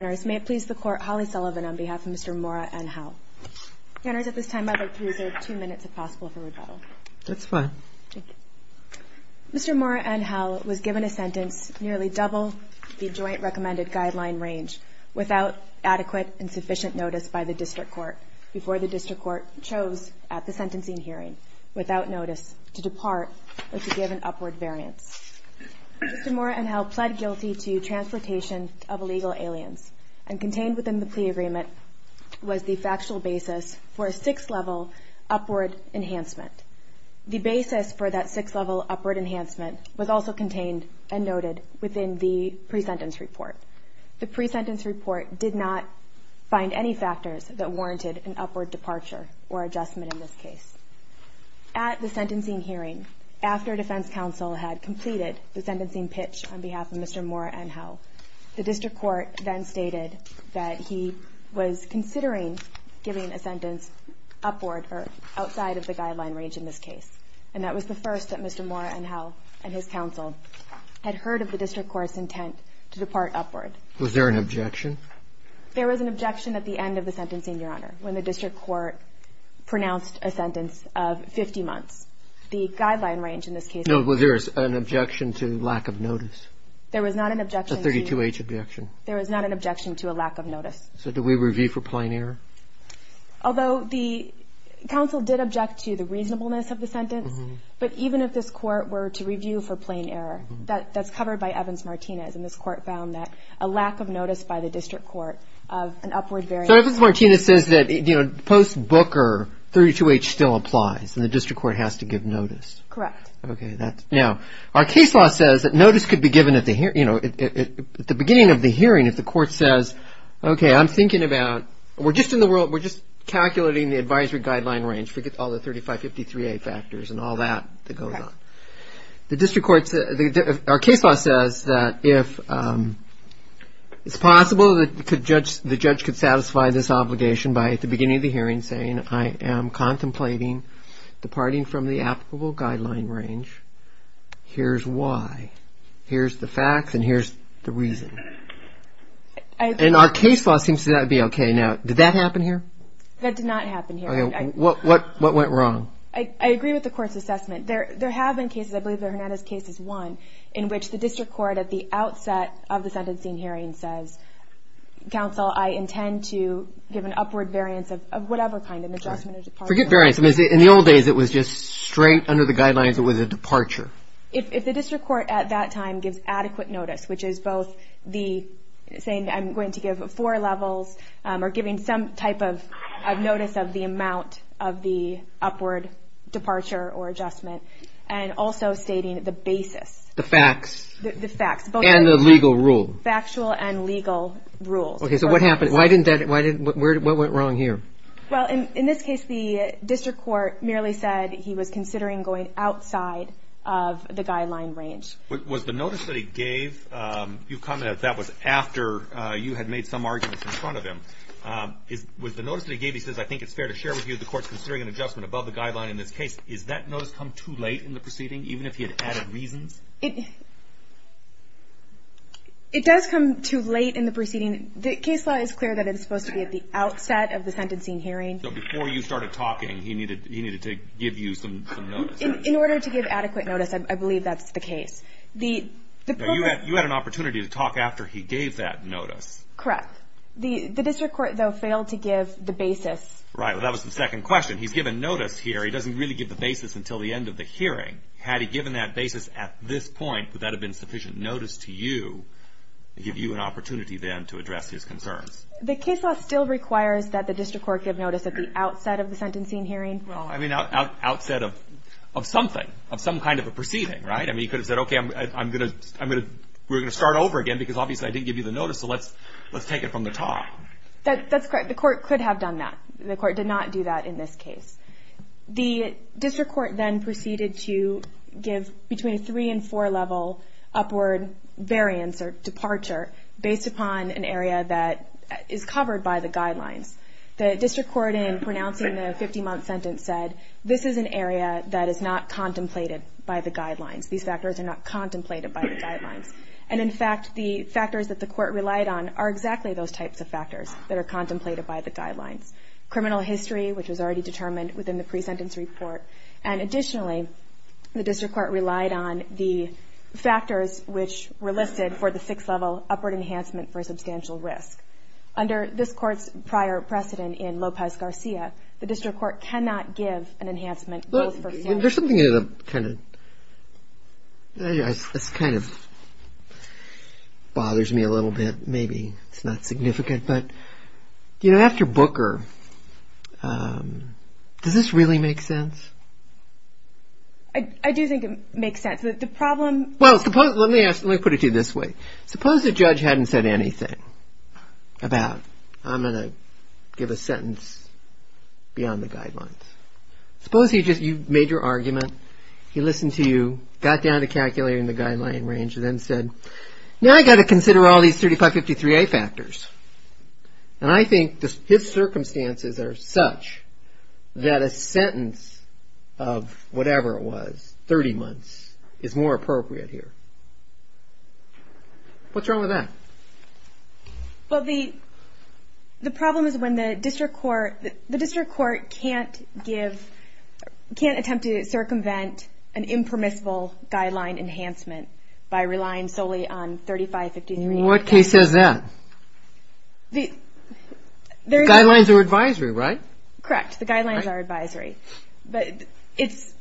May it please the Court, Holly Sullivan on behalf of Mr. Mora-Angel. Counters, at this time I would like to reserve two minutes if possible for rebuttal. That's fine. Thank you. Mr. Mora-Angel was given a sentence nearly double the Joint Recommended Guideline range without adequate and sufficient notice by the District Court before the District Court chose, at the sentencing hearing, without notice to depart or to give an upward variance. Mr. Mora-Angel pled guilty to transportation of illegal aliens and contained within the plea agreement was the factual basis for a six-level upward enhancement. The basis for that six-level upward enhancement was also contained and noted within the pre-sentence report. The pre-sentence report did not find any factors that warranted an upward departure or adjustment in this case. At the sentencing hearing, after defense counsel had completed the sentencing pitch on behalf of Mr. Mora-Angel, the District Court then stated that he was considering giving a sentence upward or outside of the guideline range in this case. And that was the first that Mr. Mora-Angel and his counsel had heard of the District Court's intent to depart upward. Was there an objection? There was not an objection to plain error when the District Court pronounced a sentence of 50 months. The guideline range in this case was 32H. No, was there an objection to lack of notice? There was not an objection to 32H objection. There was not an objection to a lack of notice. So did we review for plain error? Although the counsel did object to the reasonableness of the sentence, but even if this Court were to review for plain error, that's covered by Evans-Martinez, and this Court found that a lack of notice by the District Court of an upward variance. So Evans-Martinez says that post-Booker, 32H still applies, and the District Court has to give notice. Correct. Okay. Now, our case law says that notice could be given at the beginning of the hearing if the Court says, okay, I'm thinking about, we're just calculating the advisory guideline range. Forget all the 3553A factors and all that that goes on. Our case law says that if it's possible that the judge could satisfy this obligation by at the beginning of the hearing saying, I am contemplating departing from the applicable guideline range, here's why, here's the facts, and here's the reason. And our case law seems to be okay. Now, did that happen here? That did not happen here. What went wrong? I agree with the Court's assessment. There have been cases, I believe the Hernandez case is one, in which the District Court at the outset of the sentencing hearing says, counsel, I intend to give an upward variance of whatever kind, an adjustment or departure. Forget variance. In the old days, it was just straight under the guidelines. It was a departure. If the District Court at that time gives adequate notice, which is both saying I'm going to give four levels or giving some type of notice of the amount of the upward departure or adjustment, and also stating the basis. The facts. The facts. And the legal rule. Factual and legal rule. Okay, so what happened? Why didn't that, what went wrong here? Well, in this case, the District Court merely said he was considering going outside of the guideline range. Was the notice that he gave, you commented that was after you had made some arguments in front of him. Was the notice that he gave, he says, I think it's fair to share with you the Court's considering an adjustment above the guideline in this case. Is that notice come too late in the proceeding, even if he had added reasons? It does come too late in the proceeding. The case law is clear that it's supposed to be at the outset of the sentencing hearing. So before you started talking, he needed to give you some notice. In order to give adequate notice, I believe that's the case. You had an opportunity to talk after he gave that notice. Correct. The District Court, though, failed to give the basis. Right. Well, that was the second question. He's given notice here. He doesn't really give the basis until the end of the hearing. Had he given that basis at this point, would that have been sufficient notice to you to give you an opportunity then to address his concerns? The case law still requires that the District Court give notice at the outset of the sentencing hearing. Well, I mean, outset of something, of some kind of a proceeding, right? I mean, he could have said, okay, we're going to start over again because, obviously, I didn't give you the notice, so let's take it from the top. That's correct. The Court could have done that. The Court did not do that in this case. The District Court then proceeded to give between a three- and four-level upward variance or departure based upon an area that is covered by the guidelines. The District Court, in pronouncing the 50-month sentence, said, this is an area that is not contemplated by the guidelines. These factors are not contemplated by the guidelines. And, in fact, the factors that the Court relied on are exactly those types of factors that are contemplated by the guidelines. Criminal history, which was already determined within the pre-sentence report. And, additionally, the District Court relied on the factors which were listed for the six-level upward enhancement for substantial risk. Under this Court's prior precedent in Lopez-Garcia, the District Court cannot give an enhancement. There's something that kind of bothers me a little bit. Maybe it's not significant. But, you know, after Booker, does this really make sense? I do think it makes sense. The problem – Well, let me put it to you this way. Suppose the judge hadn't said anything about, I'm going to give a sentence beyond the guidelines. Suppose he just – you made your argument, he listened to you, got down to calculating the guideline range, and then said, now I've got to consider all these 3553A factors. And I think his circumstances are such that a sentence of whatever it was, 30 months, is more appropriate here. What's wrong with that? Well, the problem is when the District Court can't give – can't attempt to circumvent an impermissible guideline enhancement by relying solely on 3553A. What case says that? The guidelines are advisory, right? Correct. The guidelines are advisory. But it's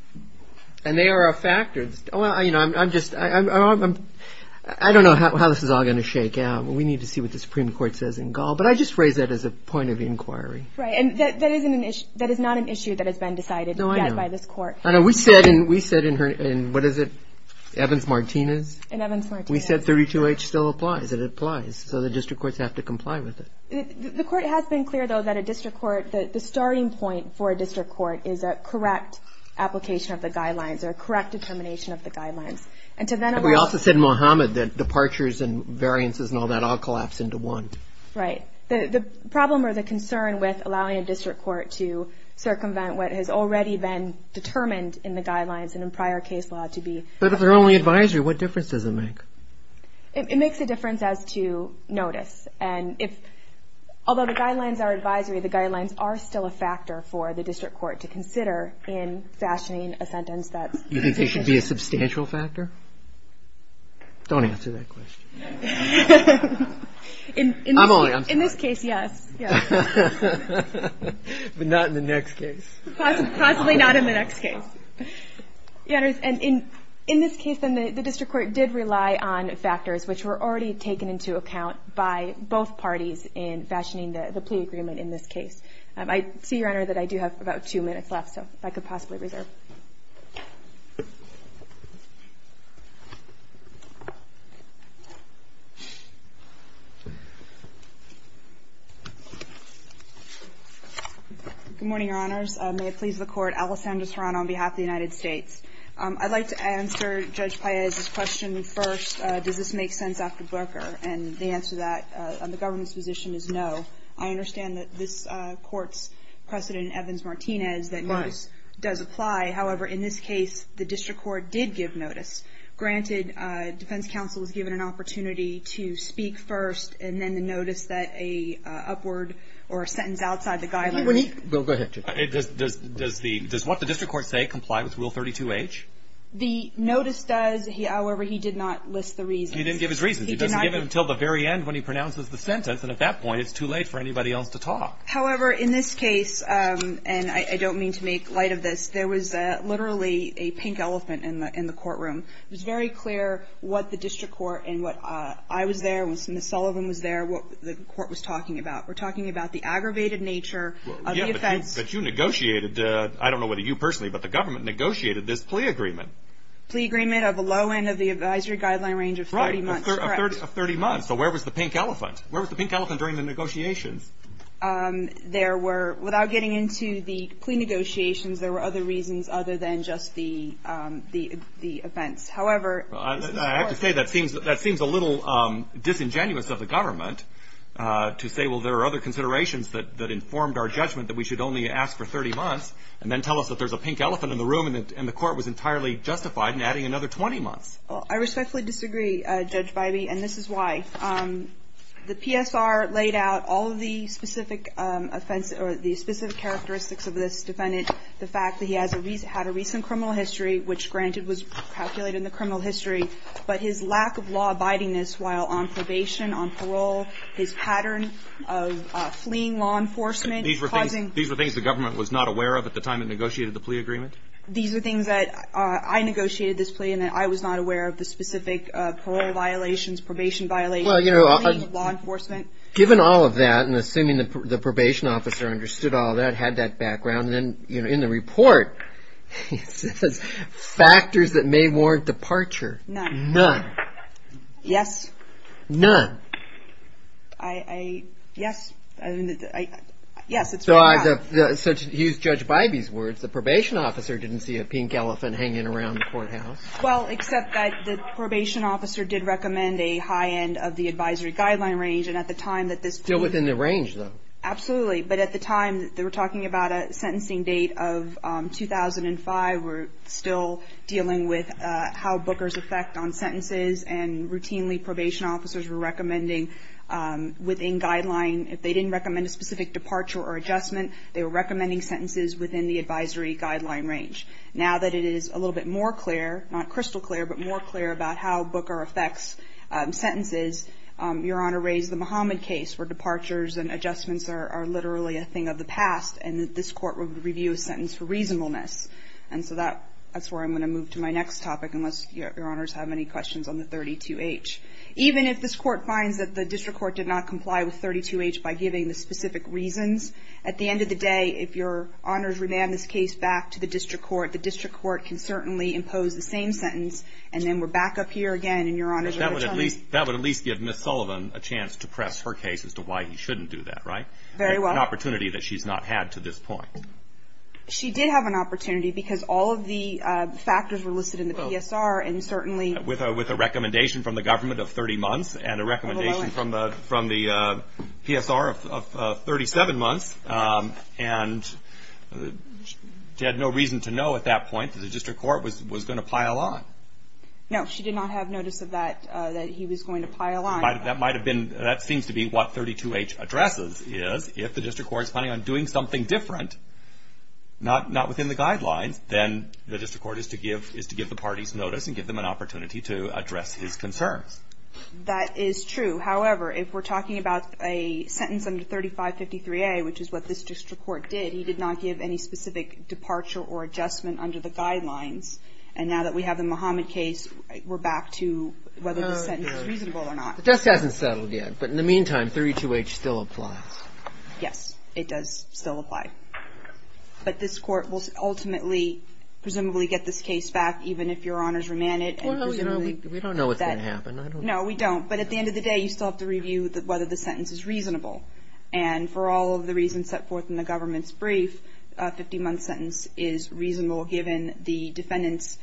– And they are a factor. You know, I'm just – I don't know how this is all going to shake out. We need to see what the Supreme Court says in Gall. But I just raised that as a point of inquiry. And that is not an issue that has been decided yet by this Court. No, I know. We said in – what is it, Evans-Martinez? In Evans-Martinez. We said 32H still applies. It applies. So the District Courts have to comply with it. The Court has been clear, though, that a District Court – the starting point for a District Court is a correct application of the guidelines or a correct determination of the guidelines. And to then allow – We also said in Mohammed that departures and variances and all that all collapse into one. Right. The problem or the concern with allowing a District Court to circumvent what has already been determined in the guidelines and in prior case law to be – But if they're only advisory, what difference does it make? It makes a difference as to notice. And if – although the guidelines are advisory, the guidelines are still a factor for the District Court to consider in fashioning a sentence that's – You think they should be a substantial factor? Don't answer that question. I'm only – I'm sorry. In this case, yes. But not in the next case. Possibly not in the next case. Your Honors, and in this case, then, the District Court did rely on factors which were already taken into account by both parties in fashioning the plea agreement in this case. I see, Your Honor, that I do have about two minutes left, so if I could possibly reserve. Go ahead. Good morning, Your Honors. May it please the Court, Alessandra Serrano on behalf of the United States. I'd like to answer Judge Paez's question first. Does this make sense after Borker? And the answer to that on the government's position is no. I understand that this Court's precedent, Evans-Martinez, that notice does apply. However, in this case, the District Court did give notice. Granted, defense counsel was given an opportunity to speak first, and then the notice that a upward or a sentence outside the guidelines – Bill, go ahead. Does the – does what the District Court say comply with Rule 32H? The notice does. However, he did not list the reasons. He didn't give his reasons. He doesn't give it until the very end when he pronounces the sentence, and at that point, it's too late for anybody else to talk. However, in this case, and I don't mean to make light of this, there was literally a pink elephant in the courtroom. It was very clear what the District Court and what – I was there, Ms. Sullivan was there, what the Court was talking about. We're talking about the aggravated nature of the offense. Yeah, but you negotiated – I don't know whether you personally, but the government negotiated this plea agreement. Plea agreement of a low end of the advisory guideline range of 30 months. Right, of 30 months. So where was the pink elephant? Where was the pink elephant during the negotiations? There were – without getting into the plea negotiations, there were other reasons other than just the events. However – I have to say, that seems a little disingenuous of the government to say, well, there are other considerations that informed our judgment that we should only ask for 30 months, and then tell us that there's a pink elephant in the room, and the Court was entirely justified in adding another 20 months. I respectfully disagree, Judge Bybee, and this is why. The PSR laid out all of the specific offenses – or the specific characteristics of this defendant. The fact that he had a recent criminal history, which, granted, was calculated in the criminal history, but his lack of law abiding-ness while on probation, on parole, his pattern of fleeing law enforcement, causing – These were things the government was not aware of at the time it negotiated the plea agreement? These were things that – I negotiated this plea, and I was not aware of the specific parole violations, probation violations, fleeing law enforcement. Well, you know, given all of that, and assuming the probation officer understood all that, had that background, and then, you know, in the report, it says, factors that may warrant departure. None. None. Yes. None. I – yes. Yes, it's very bad. So to use Judge Bybee's words, the probation officer didn't see a pink elephant hanging around the courthouse. Well, except that the probation officer did recommend a high end of the advisory guideline range, and at the time that this plea – Still within the range, though. Absolutely. But at the time, they were talking about a sentencing date of 2005. We're still dealing with how bookers affect on sentences, and routinely probation officers were recommending within guideline, if they didn't recommend a specific departure or adjustment, they were recommending sentences within the advisory guideline range. Now that it is a little bit more clear, not crystal clear, but more clear about how booker affects sentences, Your Honor raised the Muhammad case, where departures and adjustments are literally a thing of the past, and that this court would review a sentence for reasonableness. And so that's where I'm going to move to my next topic, unless Your Honors have any questions on the 32H. Even if this court finds that the district court did not comply with 32H by giving the specific reasons, at the end of the day, if Your Honors remand this case back to the district court, the district court can certainly impose the same sentence, and then we're back up here again, and Your Honors are returning. That would at least give Ms. Sullivan a chance to press her case as to why he shouldn't do that, right? Very well. An opportunity that she's not had to this point. She did have an opportunity, because all of the factors were listed in the PSR, and certainly – with a recommendation from the government of 30 months, and a recommendation from the PSR of 37 months, and she had no reason to know at that point that the district court was going to pile on. No, she did not have notice of that, that he was going to pile on. That might have been – that seems to be what 32H addresses, is if the district court is planning on doing something different, not within the guidelines, then the district court is to give the parties notice and give them an opportunity to address his concerns. That is true. However, if we're talking about a sentence under 3553A, which is what this district court did, he did not give any specific departure or adjustment under the guidelines, and now that we have the Muhammad case, we're back to whether the sentence is reasonable or not. The desk hasn't settled yet, but in the meantime, 32H still applies. Yes, it does still apply. But this court will ultimately, presumably, get this case back, even if Your Honor's remanded. We don't know what's going to happen. No, we don't. But at the end of the day, you still have to review whether the sentence is reasonable. And for all of the reasons set forth in the government's brief, a 50-month sentence is reasonable given the defendant's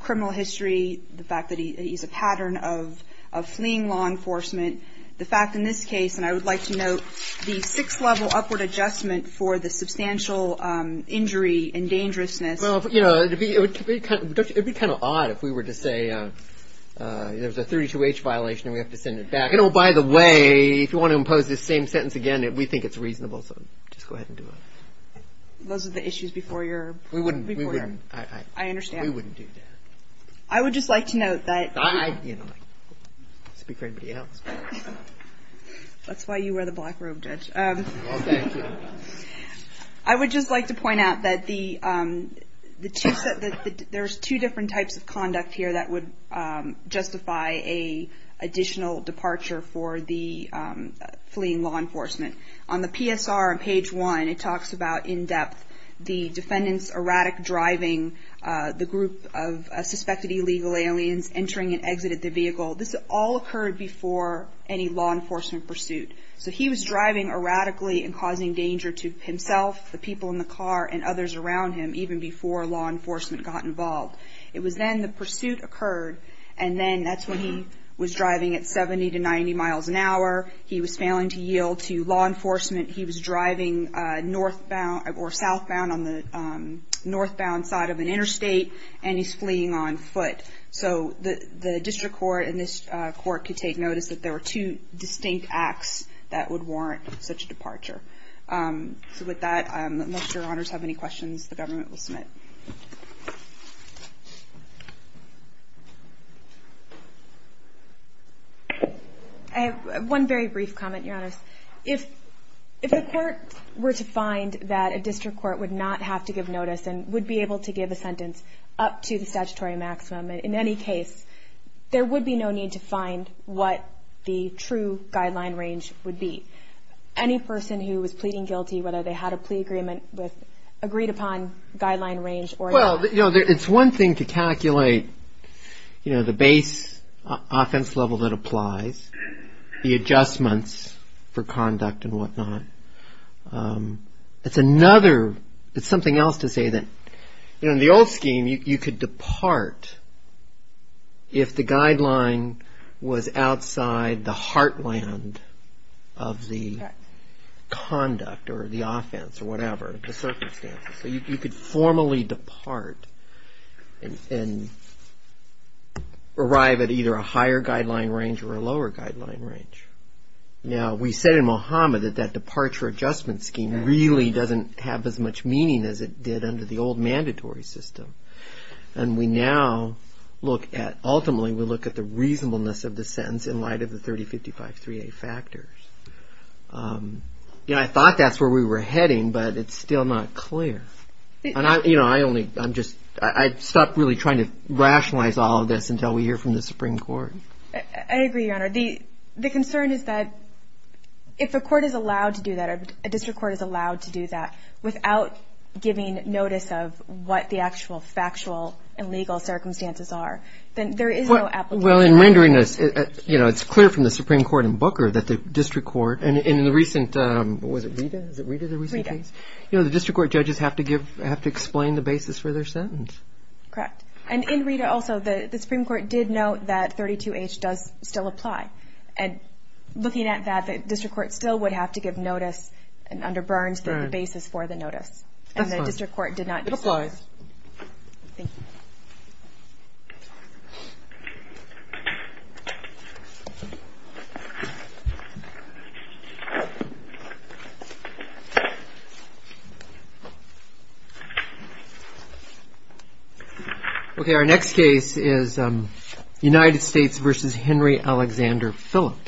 criminal history, the fact that he's a pattern of fleeing law enforcement. The fact, in this case, and I would like to note, the six-level upward adjustment for the substantial injury and dangerousness. Well, you know, it would be kind of odd if we were to say there's a 32H violation and we have to send it back. And, oh, by the way, if you want to impose this same sentence again, we think it's reasonable. So just go ahead and do it. Those are the issues before your report. We wouldn't. I understand. We wouldn't do that. I would just like to note that. Speak for anybody else. That's why you wear the black robe, Judge. Well, thank you. I would just like to point out that there's two different types of conduct here that would justify an additional departure for the fleeing law enforcement. On the PSR on page one, it talks about, in depth, the defendant's erratic driving, the group of suspected illegal aliens entering and exiting the vehicle. This all occurred before any law enforcement pursuit. So he was driving erratically and causing danger to himself, the people in the car, and others around him even before law enforcement got involved. It was then the pursuit occurred, and then that's when he was driving at 70 to 90 miles an hour. He was failing to yield to law enforcement. He was driving northbound or southbound on the northbound side of an interstate, and he's fleeing on foot. So the district court and this court could take notice that there were two distinct acts that would warrant such a departure. So with that, unless Your Honors have any questions, the government will submit. I have one very brief comment, Your Honors. If the court were to find that a district court would not have to give notice and would be able to give a sentence up to the statutory maximum in any case, there would be no need to find what the true guideline range would be. Any person who was pleading guilty, whether they had a plea agreement with agreed-upon guideline range or not? Well, it's one thing to calculate the base offense level that applies, the adjustments for conduct and whatnot. It's another, it's something else to say that in the old scheme you could depart if the guideline was outside the heartland of the conduct or the offense or whatever, the circumstances. So you could formally depart and arrive at either a higher guideline range or a lower guideline range. Now, we said in Mohamed that that departure adjustment scheme really doesn't have as much meaning as it did under the old mandatory system. And we now look at, ultimately, we look at the reasonableness of the sentence in light of the 3055-3A factors. I thought that's where we were heading, but it's still not clear. I stopped really trying to rationalize all of this until we hear from the Supreme Court. I agree, Your Honor. The concern is that if a court is allowed to do that, a district court is allowed to do that without giving notice of what the actual factual and legal circumstances are, then there is no application. Well, in rendering this, you know, it's clear from the Supreme Court in Booker that the district court, and in the recent, was it Rita? Is it Rita, the recent case? Rita. You know, the district court judges have to give, have to explain the basis for their sentence. Correct. And in Rita also, the Supreme Court did note that 32H does still apply. And looking at that, the district court still would have to give notice under Burns the basis for the notice. That's fine. And the district court did not do so. It applies. Thank you. Okay. Our next case is United States v. Henry Alexander Phillips.